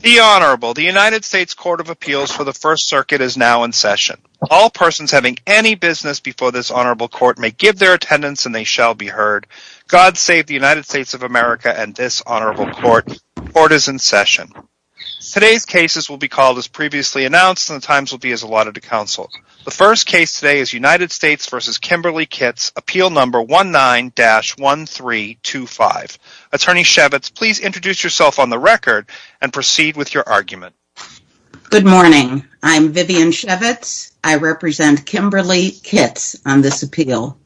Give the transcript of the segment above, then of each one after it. The Honorable, the United States Court of Appeals for the First Circuit is now in session. All persons having any business before this Honorable Court may give their attendance and they shall be heard. God save the United States of America and this Honorable Court. Court is in session. Today's cases will be called as previously announced and the times will be as allotted to counsel. The first case today is United States v. Kimberly Kitts, Appeal Number 19-1325. Attorney Shevitz, please introduce yourself on the record and proceed with your argument. Good morning. I'm Vivian Shevitz. I represent Kimberly Kitts on this appeal.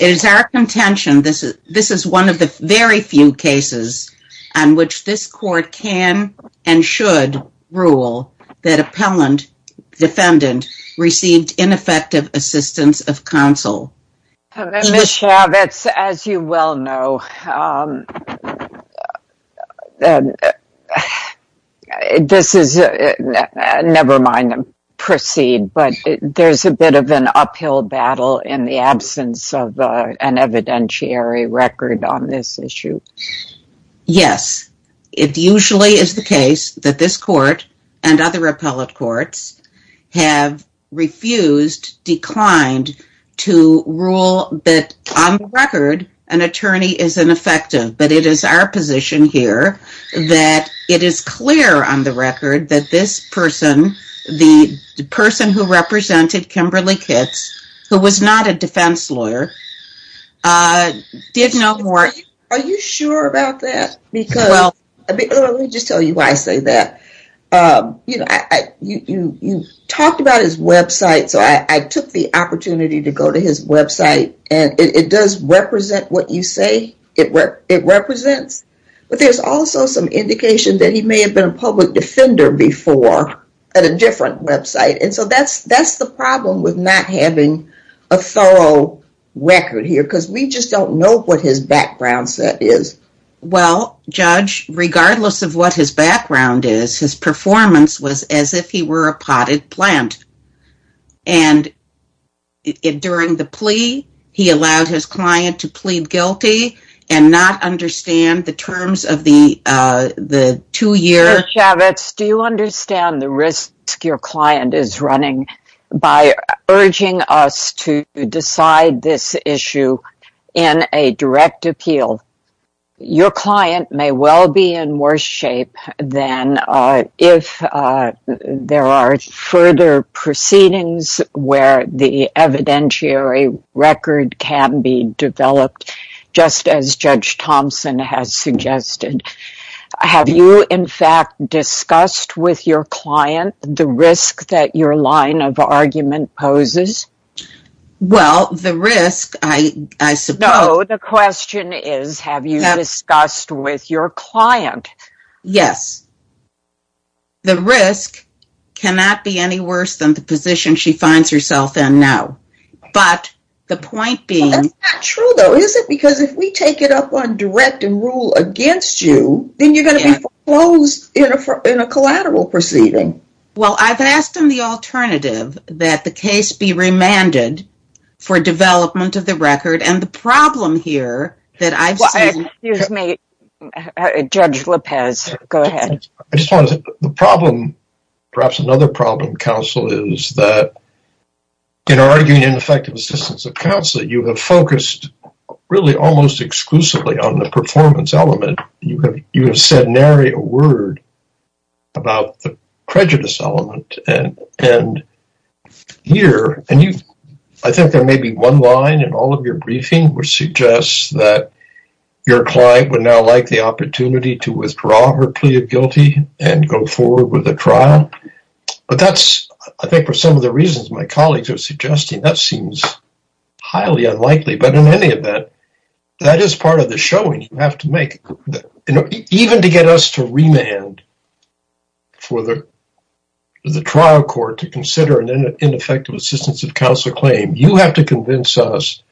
It is our contention this is one of the very few cases on which this court can and should rule that appellant defendant received ineffective assistance of counsel. Ms. Shevitz, as you well know, this is, never mind, proceed, but there's a bit of an uphill battle in the absence of an evidentiary record on this issue. Yes, it usually is the case that this court and other appellate courts have refused, declined to rule that on record an attorney is ineffective, but it is our position here that it is clear on the record that this person, the person who represented Kimberly Kitts, who was not a defense lawyer, did no more... Are you sure about that? Because, let me just tell you why I say that. You talked about his website, so I took the opportunity to go to his website and it does represent what you say it represents, but there's also some indication that he may have been a public defender before at a different website, and so that's the problem with not having a thorough record here, because we just don't know what his background set is. Well, Judge, regardless of what his background is, his performance was as if he were a potted plant, and during the plea, he allowed his client to plead guilty and not understand the terms of the two-year... Judge Chavez, do you understand the risk your client is running by urging us to decide this issue in a direct appeal? Your client may well be in worse shape than if there are further proceedings where the evidentiary record can be developed, just as Judge Thompson has suggested. Have you, in fact, discussed with your client the risk that your line of argument poses? Well, the risk, I suppose... No, the question is, have you discussed with your client? Yes. The risk cannot be any worse than the position she finds herself in now, but the point being... That's not true, though, is it? Because if we take it up on direct and rule against you, then you're going to be closed in a collateral proceeding. Well, I've asked him the alternative, that the case be remanded for development of the record, and the problem here that I've seen... Excuse me, Judge Lopez, go ahead. I just want to say, the problem, perhaps another problem, counsel, is that in arguing ineffective assistance of counsel, you have focused really almost exclusively on the performance element. You have said nary a word about the prejudice element, and here... I think there may be one line in all of your briefing which suggests that your client would now like the opportunity to withdraw her plea of guilty and go forward with a trial, but that's, I think, for some of the reasons my colleagues are suggesting, that seems highly unlikely, but in any event, that is part of the showing you have to make. Even to get us to remand for the trial court to consider an ineffective assistance of counsel claim, you have to convince us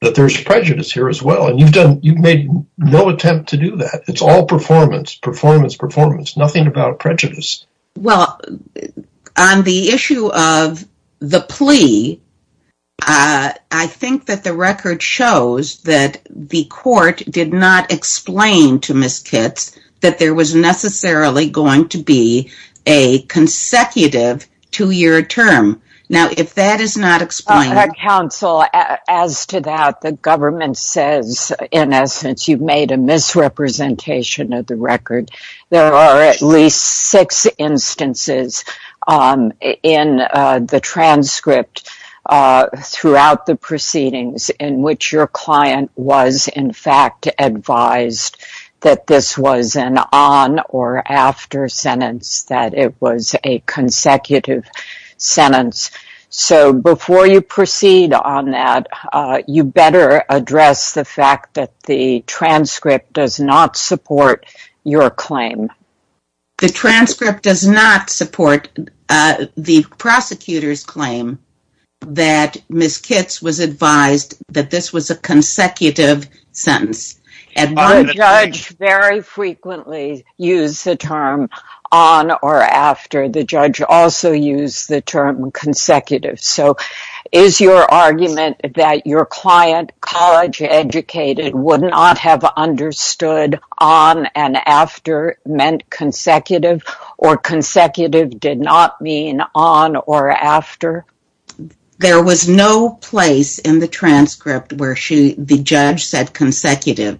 that there's prejudice here as well, and you've made no attempt to do that. It's all performance, performance, performance. Nothing about prejudice. Well, on the issue of the plea, I think that the record shows that the court did not explain to Ms. Kitts that there was necessarily going to be a consecutive two-year term. Now, if that is not explained... Counsel, as to that, the government says, in essence, you've made a misrepresentation of the record. There are at least six instances in the transcript throughout the proceedings in which your client was, in fact, advised that this was an on or after sentence, that it was a consecutive sentence. So, before you proceed on that, you better address the fact that the transcript does not support your claim. The transcript does not support the prosecutor's claim that Ms. Kitts was advised that this was a consecutive sentence. The judge very frequently used the term on or after. The judge also used the term consecutive. So, is your argument that your client, college-educated, would not have understood on and after meant consecutive, or consecutive did not mean on or after? There was no place in the transcript where the judge said consecutive.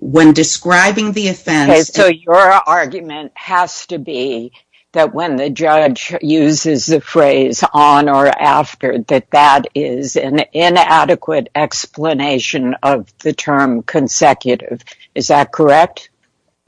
When describing the offense... Okay, so your argument has to be that when the judge uses the phrase on or after, that that is an inadequate explanation of the term consecutive. Is that correct?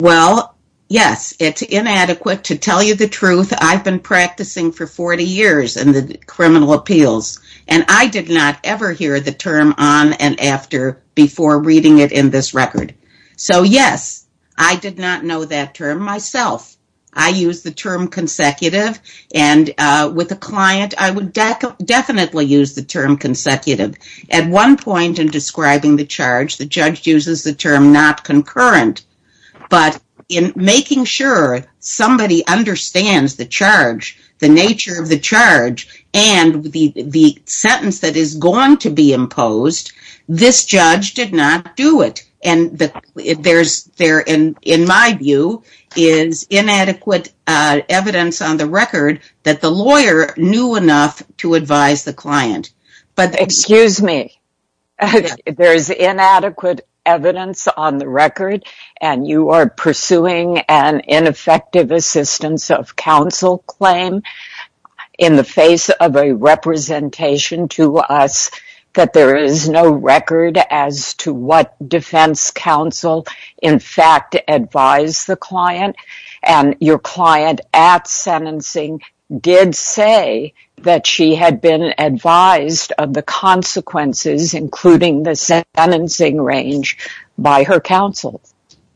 Well, yes, it's inadequate. To tell you the truth, I've been practicing for 40 years in the criminal appeals, and I did not ever hear the term on and after before reading it in this record. So, yes, I did not know that term myself. I used the term consecutive, and with a client, I would definitely use the term consecutive. At one point in describing the charge, the judge uses the term not concurrent, but in making sure somebody understands the charge, the nature of the charge, and the sentence that is going to be imposed, this judge did not do it. And there, in my view, is inadequate evidence on the record that the lawyer knew enough to advise the client. Excuse me. There is inadequate evidence on the record, and you are pursuing an ineffective assistance of counsel claim in the face of a representation to us that there is no record as to what defense counsel, in fact, advised the client. And your client at sentencing did say that she had been advised of the consequences, including the sentencing range, by her counsel.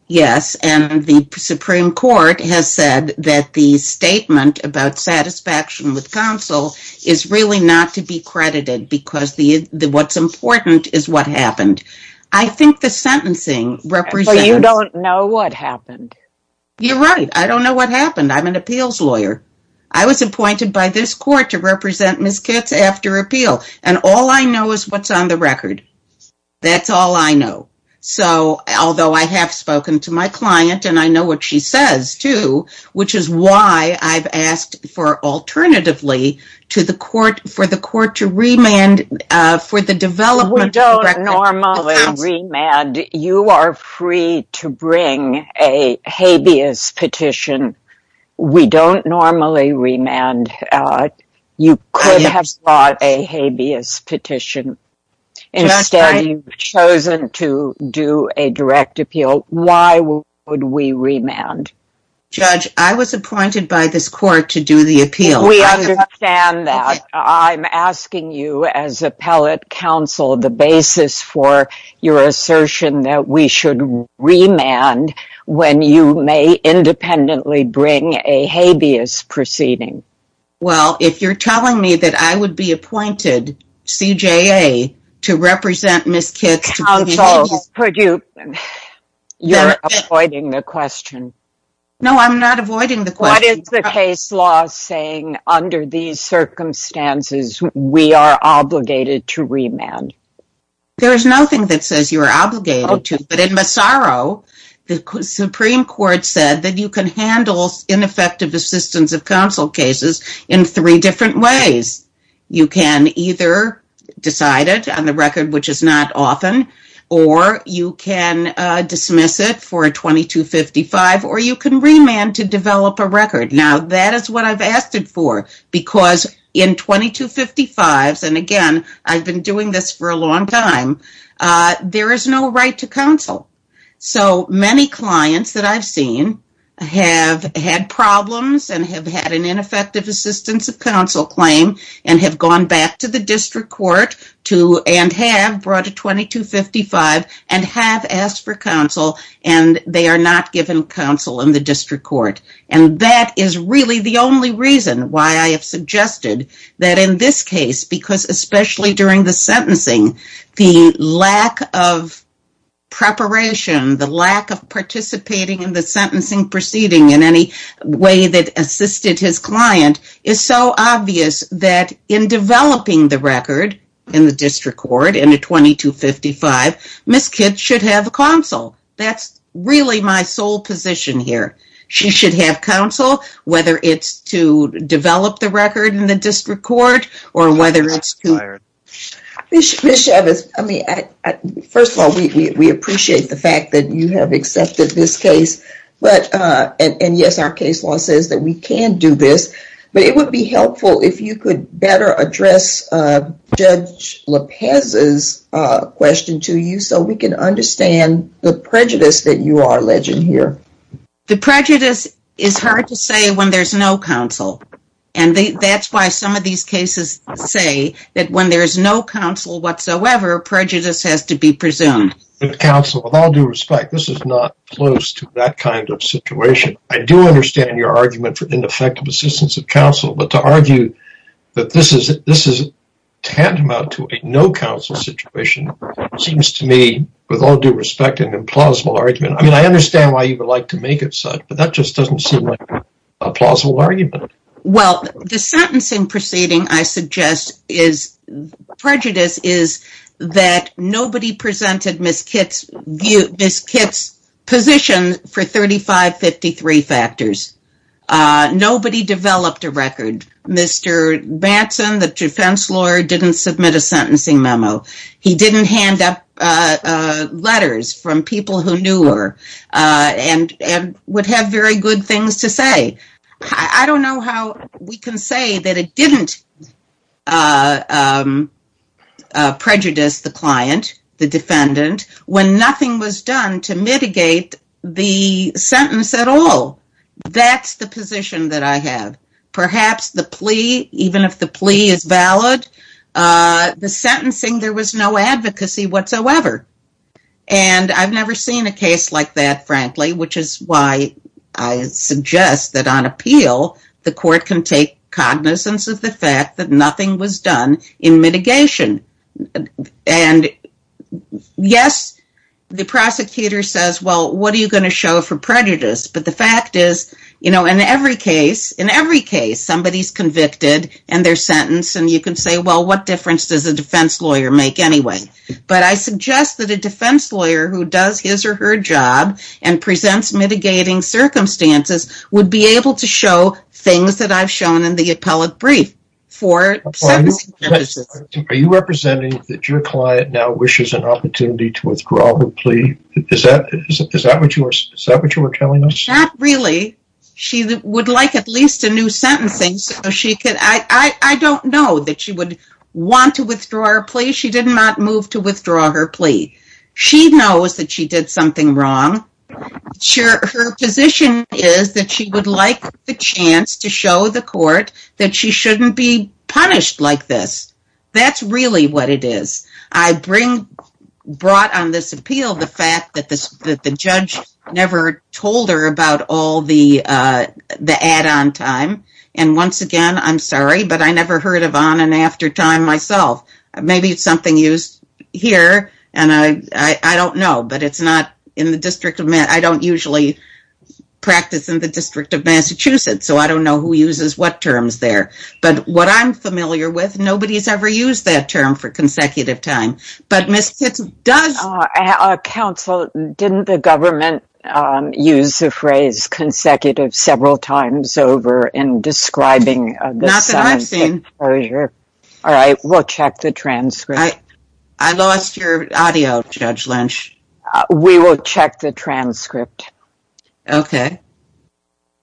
Yes, and the Supreme Court has said that the statement about satisfaction with counsel is really not to be credited because what's important is what happened. I think the sentencing represents... Well, you don't know what happened. You're right. I don't know what happened. I'm an appeals lawyer. I was appointed by this court to represent Ms. Kitts after appeal, and all I know is what's on the record. That's all I know. So, although I have spoken to my client, and I know what she says, too, which is why I've asked for, alternatively, for the court to remand for the development of the record... We don't normally remand. You are free to bring a habeas petition. We don't normally remand. You could have brought a habeas petition. Instead, you've chosen to do a direct appeal. Why would we remand? Judge, I was appointed by this court to do the appeal. We understand that. I'm asking you, as appellate counsel, the basis for your assertion that we should remand when you may independently bring a habeas proceeding. Well, if you're telling me that I would be appointed, CJA, to represent Ms. Kitts to put a habeas petition... Counsel, could you... You're avoiding the question. No, I'm not avoiding the question. What is the case law saying, under these circumstances, we are obligated to remand? There is nothing that says you are obligated to. But in Massaro, the Supreme Court said that you can handle ineffective assistance of counsel cases in three different ways. You can either decide it on the record, which is not often, or you can dismiss it for a 2255, or you can remand to develop a record. Now, that is what I've asked it for, because in 2255s, and again, I've been doing this for a long time, there is no right to counsel. So, many clients that I've seen have had problems and have had an ineffective assistance of counsel claim, and have gone back to the district court, and have brought a 2255, and have asked for counsel, and they are not given counsel in the district court. And that is really the only reason why I have suggested that in this case, because especially during the sentencing, the lack of preparation, the lack of participating in the sentencing proceeding in any way that assisted his client, is so obvious that in developing the record in the district court, in a 2255, Ms. Kitts should have counsel. That's really my sole position here. She should have counsel, whether it's to develop the record in the district court, or whether it's to... Ms. Chavez, first of all, we appreciate the fact that you have accepted this case, and yes, our case law says that we can do this. But it would be helpful if you could better address Judge Lopez's question to you, so we can understand the prejudice that you are alleging here. The prejudice is hard to say when there's no counsel. And that's why some of these cases say that when there's no counsel whatsoever, prejudice has to be presumed. Counsel, with all due respect, this is not close to that kind of situation. I do understand your argument for ineffective assistance of counsel, but to argue that this is tantamount to a no-counsel situation seems to me, with all due respect, an implausible argument. I mean, I understand why you would like to make it such, but that just doesn't seem like a plausible argument. Well, the sentencing proceeding, I suggest, prejudice is that nobody presented Ms. Kitt's position for 3553 factors. Nobody developed a record. Mr. Batson, the defense lawyer, didn't submit a sentencing memo. He didn't hand up letters from people who knew her and would have very good things to say. I don't know how we can say that it didn't prejudice the client, the defendant, when nothing was done to mitigate the sentence at all. That's the position that I have. Perhaps the plea, even if the plea is valid, the sentencing, there was no advocacy whatsoever. And I've never seen a case like that, frankly, which is why I suggest that on appeal, the court can take cognizance of the fact that nothing was done in mitigation. And yes, the prosecutor says, well, what are you going to show for prejudice? But the fact is, you know, in every case, somebody's convicted and they're sentenced, and you can say, well, what difference does a defense lawyer make anyway? But I suggest that a defense lawyer who does his or her job and presents mitigating circumstances would be able to show things that I've shown in the appellate brief for sentencing purposes. Are you representing that your client now wishes an opportunity to withdraw her plea? Is that what you were telling us? Not really. She would like at least a new sentencing. So she could, I don't know that she would want to withdraw her plea. She did not move to withdraw her plea. She knows that she did something wrong. Her position is that she would like the chance to show the court that she shouldn't be punished like this. That's really what it is. I brought on this appeal the fact that the judge never told her about all the add-on time. And once again, I'm sorry, but I never heard of on and after time myself. Maybe it's something used here. And I don't know. But it's not in the District of Massachusetts. I don't usually practice in the District of Massachusetts. So I don't know who uses what terms there. But what I'm familiar with, nobody's ever used that term for consecutive time. But Ms. Sitz does... Counsel, didn't the government use the phrase consecutive several times over in describing the size of the closure? Not that I've seen. All right, we'll check the transcript. I lost your audio, Judge Lynch. We will check the transcript. Okay.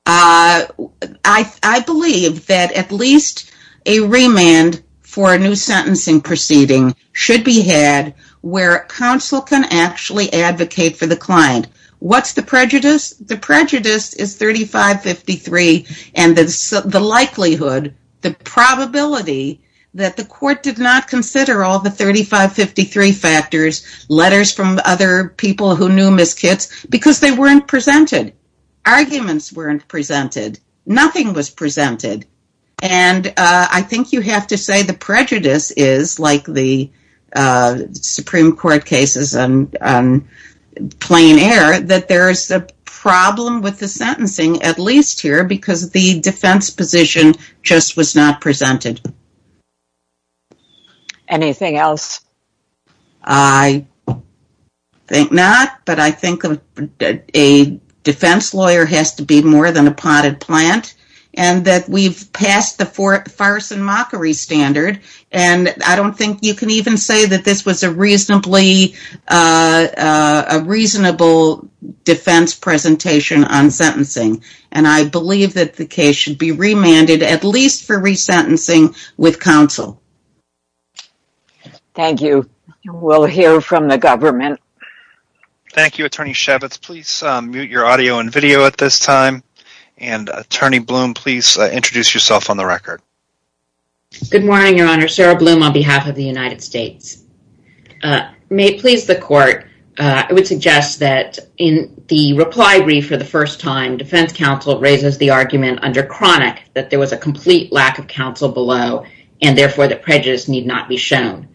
I believe that at least a remand for a new sentencing proceeding should be had where counsel can actually advocate for the client. What's the prejudice? The prejudice is 3553. And the likelihood, the probability that the court did not consider all the 3553 factors, letters from other people who knew Ms. Kitts, because they weren't presented. Arguments weren't presented. Nothing was presented. And I think you have to say the prejudice is like the Supreme Court cases on plain air, that there's a problem with the sentencing at least here because the defense position just was not presented. Anything else? I think not. But I think a defense lawyer has to be more than a potted plant. And that we've passed the farce and mockery standard. And I don't think you can even say that this was a reasonably, a reasonable defense presentation on sentencing. And I believe that the case should be remanded at least for resentencing with counsel. Thank you. We'll hear from the government. Thank you, Attorney Shabbat. Please mute your audio and video at this time. And Attorney Bloom, please introduce yourself on the record. Good morning, Your Honor. Sarah Bloom on behalf of the United States. May it please the court, I would suggest that in the reply brief for the first time, defense counsel raises the argument under chronic that there was a complete lack of counsel below, and therefore the prejudice need not be shown.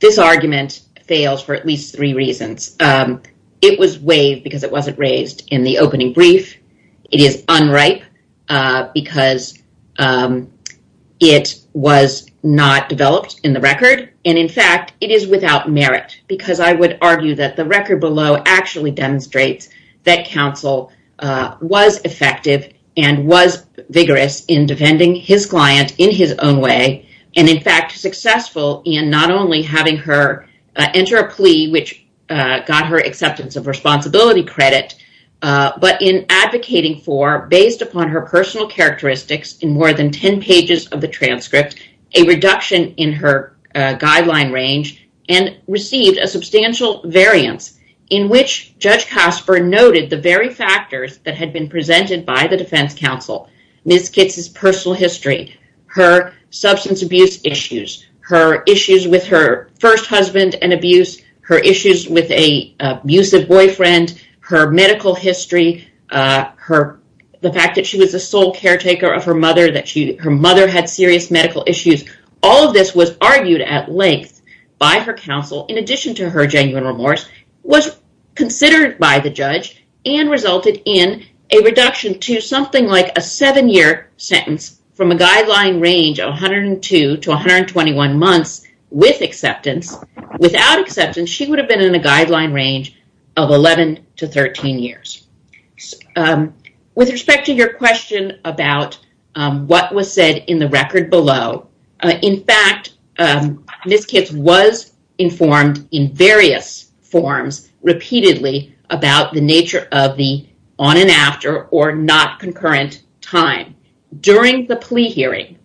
This argument fails for at least three reasons. It was waived because it wasn't raised in the opening brief. It is unripe because it was not developed in the record. And in fact, it is without merit. Because I would argue that the record below actually demonstrates that counsel was effective and was vigorous in defending his client in his own way. And in fact, successful in not only having her enter a plea, which got her acceptance of responsibility credit. But in advocating for based upon her personal characteristics in more than 10 pages of the transcript, a reduction in her guideline range and received a substantial variance in which Judge Casper noted the very factors that had been presented by the defense counsel. Ms. Kitt's personal history, her substance abuse issues, her issues with her first husband and abuse, her issues with a abusive boyfriend, her medical history, the fact that she was a sole caretaker of her mother, that her mother had serious medical issues. All of this was argued at length by her counsel, in addition to her genuine remorse, was considered by the judge and resulted in a reduction to something like a seven-year sentence from a guideline range of 102 to 121 months with acceptance. Without acceptance, she would have been in a guideline range of 11 to 13 years. With respect to your question about what was said in the record below, in fact, Ms. Kitt's was informed in various forms repeatedly about the nature of the on and after or not concurrent time. During the plea hearing,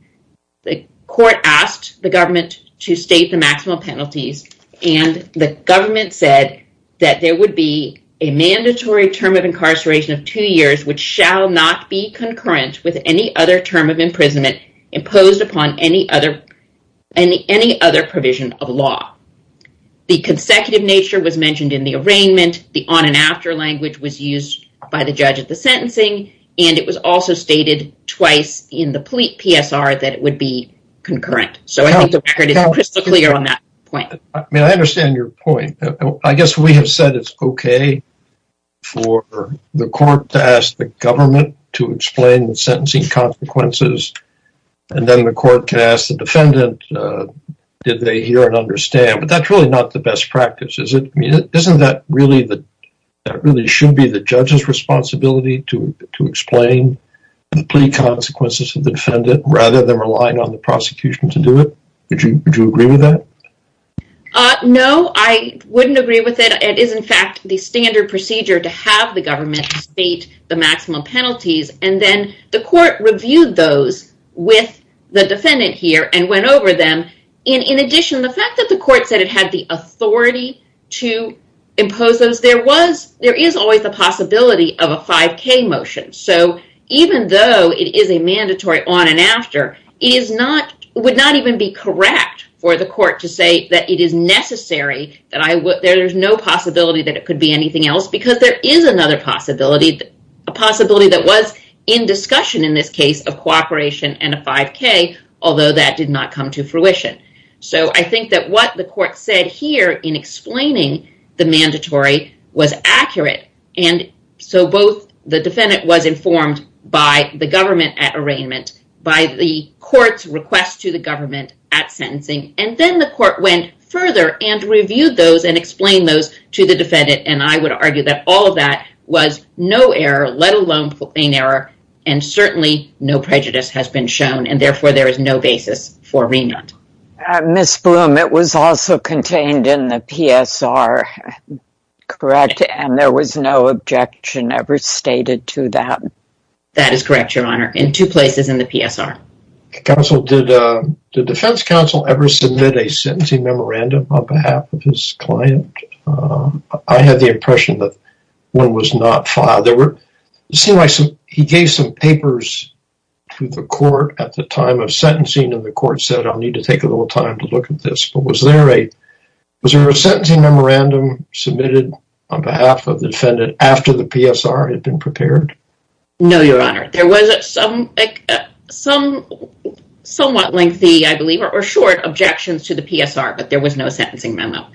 the court asked the government to state the maximal penalties and the government said that there would be a mandatory term of incarceration of two years, which shall not be concurrent with any other term of imprisonment imposed upon any other provision of law. The consecutive nature was mentioned in the arraignment. The on and after language was used by the judge at the sentencing and it was also stated twice in the plea PSR that it would be concurrent. So I think the record is crystal clear on that point. I mean, I understand your point. I guess we have said it's okay for the court to ask the government to explain the sentencing consequences and then the court can ask the defendant, did they hear and understand? But that's really not the best practice, is it? Isn't that really should be the judge's responsibility to explain the plea consequences of the defendant rather than relying on the prosecution to do it? Would you agree with that? No, I wouldn't agree with it. It is, in fact, the standard procedure to have the government state the maximum penalties and then the court reviewed those with the defendant here and went over them. In addition, the fact that the court said it had the authority to impose those, there is always the possibility of a 5K motion. So even though it is a mandatory on and after, it would not even be correct for the court to say that it is necessary, that there's no possibility that it could be anything else, because there is another possibility, a possibility that was in discussion in this case of cooperation and a 5K, although that did not come to fruition. So I think that what the court said here in explaining the mandatory was accurate. And so both the defendant was informed by the government at arraignment, by the court's request to the government at sentencing, and then the court went further and reviewed those and explained those to the defendant. And I would argue that all of that was no error, let alone in error, and certainly no prejudice has been shown. And therefore, there is no basis for remand. Ms. Bloom, it was also contained in the PSR, correct? And there was no objection ever stated to that? That is correct, Your Honor, in two places in the PSR. Counsel, did the defense counsel ever submit a sentencing memorandum on behalf of his client? I had the impression that one was not filed. He gave some papers to the court at the time of sentencing, and the court said, I'll need to take a little time to look at this. But was there a sentencing memorandum submitted on behalf of the defendant after the PSR had been prepared? No, Your Honor. There was some somewhat lengthy, I believe, or short objections to the PSR, but there was no sentencing memo.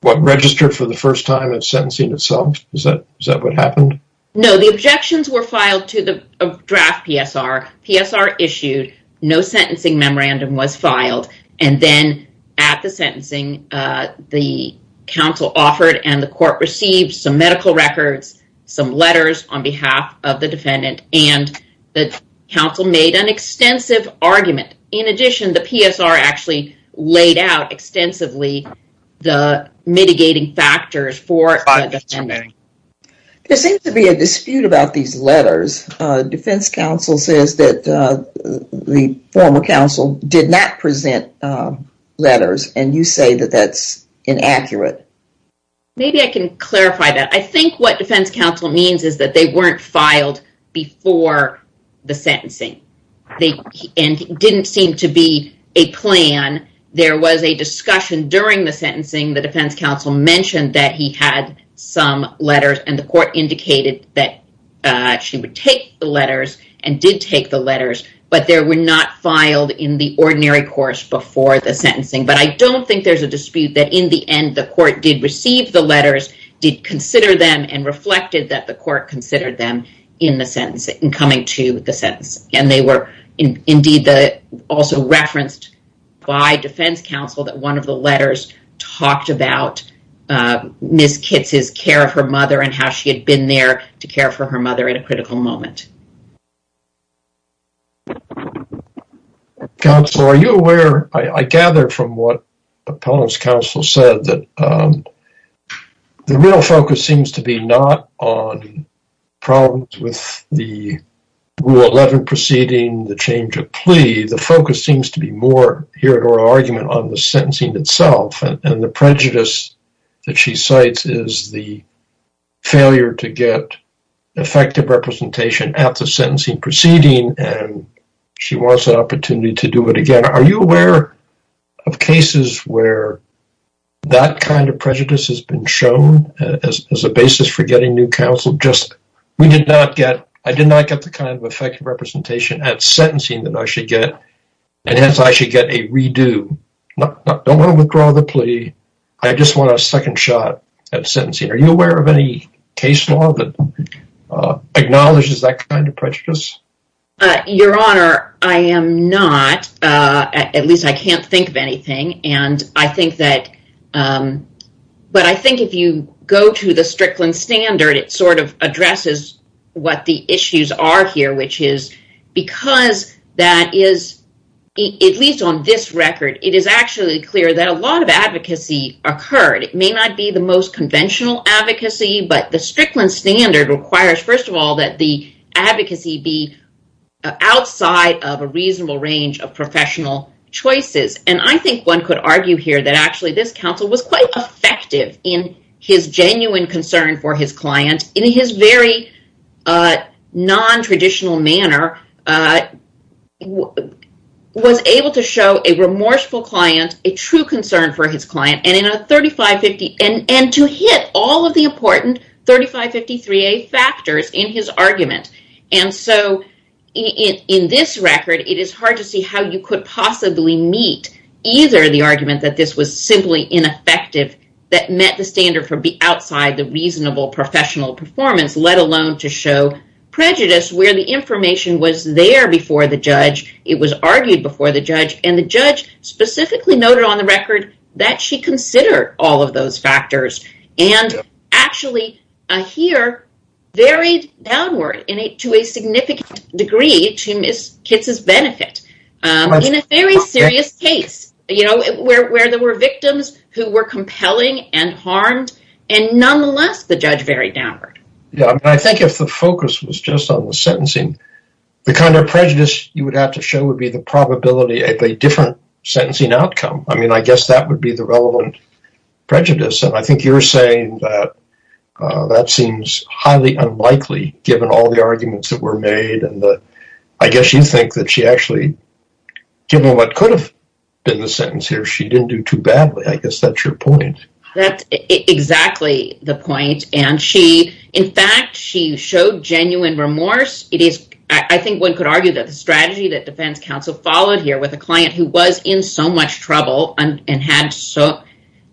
What registered for the first time at sentencing itself? Is that what happened? No, the objections were filed to the draft PSR. PSR issued, no sentencing memorandum was filed, and then at the sentencing, the counsel offered, and the court received some medical records, some letters on behalf of the defendant, and the counsel made an extensive argument. In addition, the PSR actually laid out extensively the mitigating factors for the defendant. There seems to be a dispute about these letters. Defense counsel says that the former counsel did not present letters, and you say that that's inaccurate. Maybe I can clarify that. I think what defense counsel means is that they weren't filed before the sentencing, and it didn't seem to be a plan. There was a discussion during the sentencing. The defense counsel mentioned that he had some letters, and the court indicated that she would take the letters and did take the letters, but they were not filed in the ordinary course before the sentencing, but I don't think there's a dispute that in the end, the court did receive the letters, did consider them, and reflected that the court considered them in the sentence, in coming to the sentence, and they were indeed also referenced by defense counsel that one of the letters talked about Ms. Kitz's care of her mother and how she had been there to care for her mother at a critical moment. Counsel, are you aware, I gather from what appellant's counsel said that the real focus seems to be not on problems with the Rule 11 proceeding, the change of plea. The focus seems to be more here at oral argument on the sentencing itself, and the prejudice that she cites is the failure to get effective representation at the sentencing proceeding, and she wants an opportunity to do it again. Are you aware of cases where that kind of prejudice has been shown as a basis for getting new counsel? I did not get the kind of effective representation at sentencing that I should get, and hence I should get a redo. Don't want to withdraw the plea. I just want a second shot at sentencing. Are you aware of any case law that acknowledges that kind of prejudice? Your Honor, I am not. At least I can't think of anything, but I think if you go to the Strickland Standard, it sort of addresses what the issues are here, which is because that is, at least on this record, it is actually clear that a lot of advocacy occurred. It may not be the most conventional advocacy, but the Strickland Standard requires, first of all, that the advocacy be outside of a reasonable range of professional choices, and I think one could argue here that actually this counsel was quite effective in his genuine concern for his client in his very non-traditional manner, was able to show a remorseful client, a true concern for his client, and to hit all of the important 3553A factors in his argument, and so in this record, it is hard to see how you could possibly meet either the argument that this was simply ineffective, that met the standard for outside the reasonable professional performance, let alone to show prejudice where the information was there before the judge, it was argued before the judge, and the judge specifically noted on the record that she considered all of those factors and actually here varied downward to a significant degree to Ms. Kitt's benefit in a very serious case where there were victims who were compelling and harmed, and nonetheless, the judge varied downward. Yeah, I think if the focus was just on the sentencing, the kind of prejudice you would have to show would be the probability of a different sentencing outcome. I mean, I guess that would be the relevant prejudice, and I think you're saying that that seems highly unlikely given all the arguments that were made, and I guess you think that she actually, given what could have been the sentence here, she didn't do too badly. I guess that's your point. That's exactly the point, and she, in fact, she showed genuine remorse. It is, I think one could argue that the strategy that defense counsel followed here with a client who was in so much trouble and had so,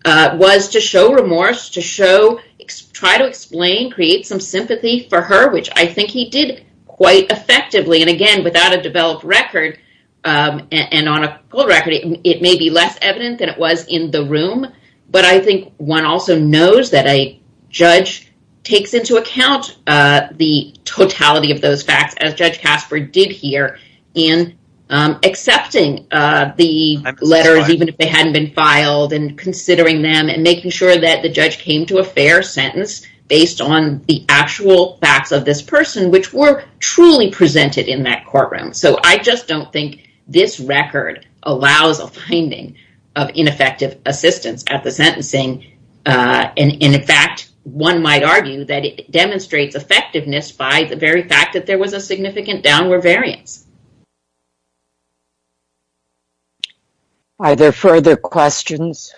was to show remorse, to show, try to explain, create some sympathy for her, which I think he did quite effectively, and again, without a developed record, and on a full record, it may be less evident than it was in the room, but I think one also knows that a judge takes into account the totality of those facts as Judge Casper did here in accepting the letters, even if they hadn't been filed, and considering them, and making sure that the judge came to a fair sentence based on the actual facts of this person, which were truly presented in that courtroom, so I just don't think this record allows a finding of ineffective assistance at the sentencing, and in fact, one might argue that it demonstrates effectiveness by the very fact that there was a significant downward variance. Are there further questions?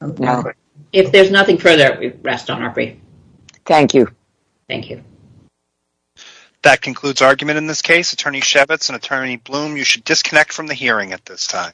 No. If there's nothing further, we rest on our feet. Thank you. Thank you. That concludes argument in this case. Attorney Shevitz and Attorney Blum, you should disconnect from the hearing at this time.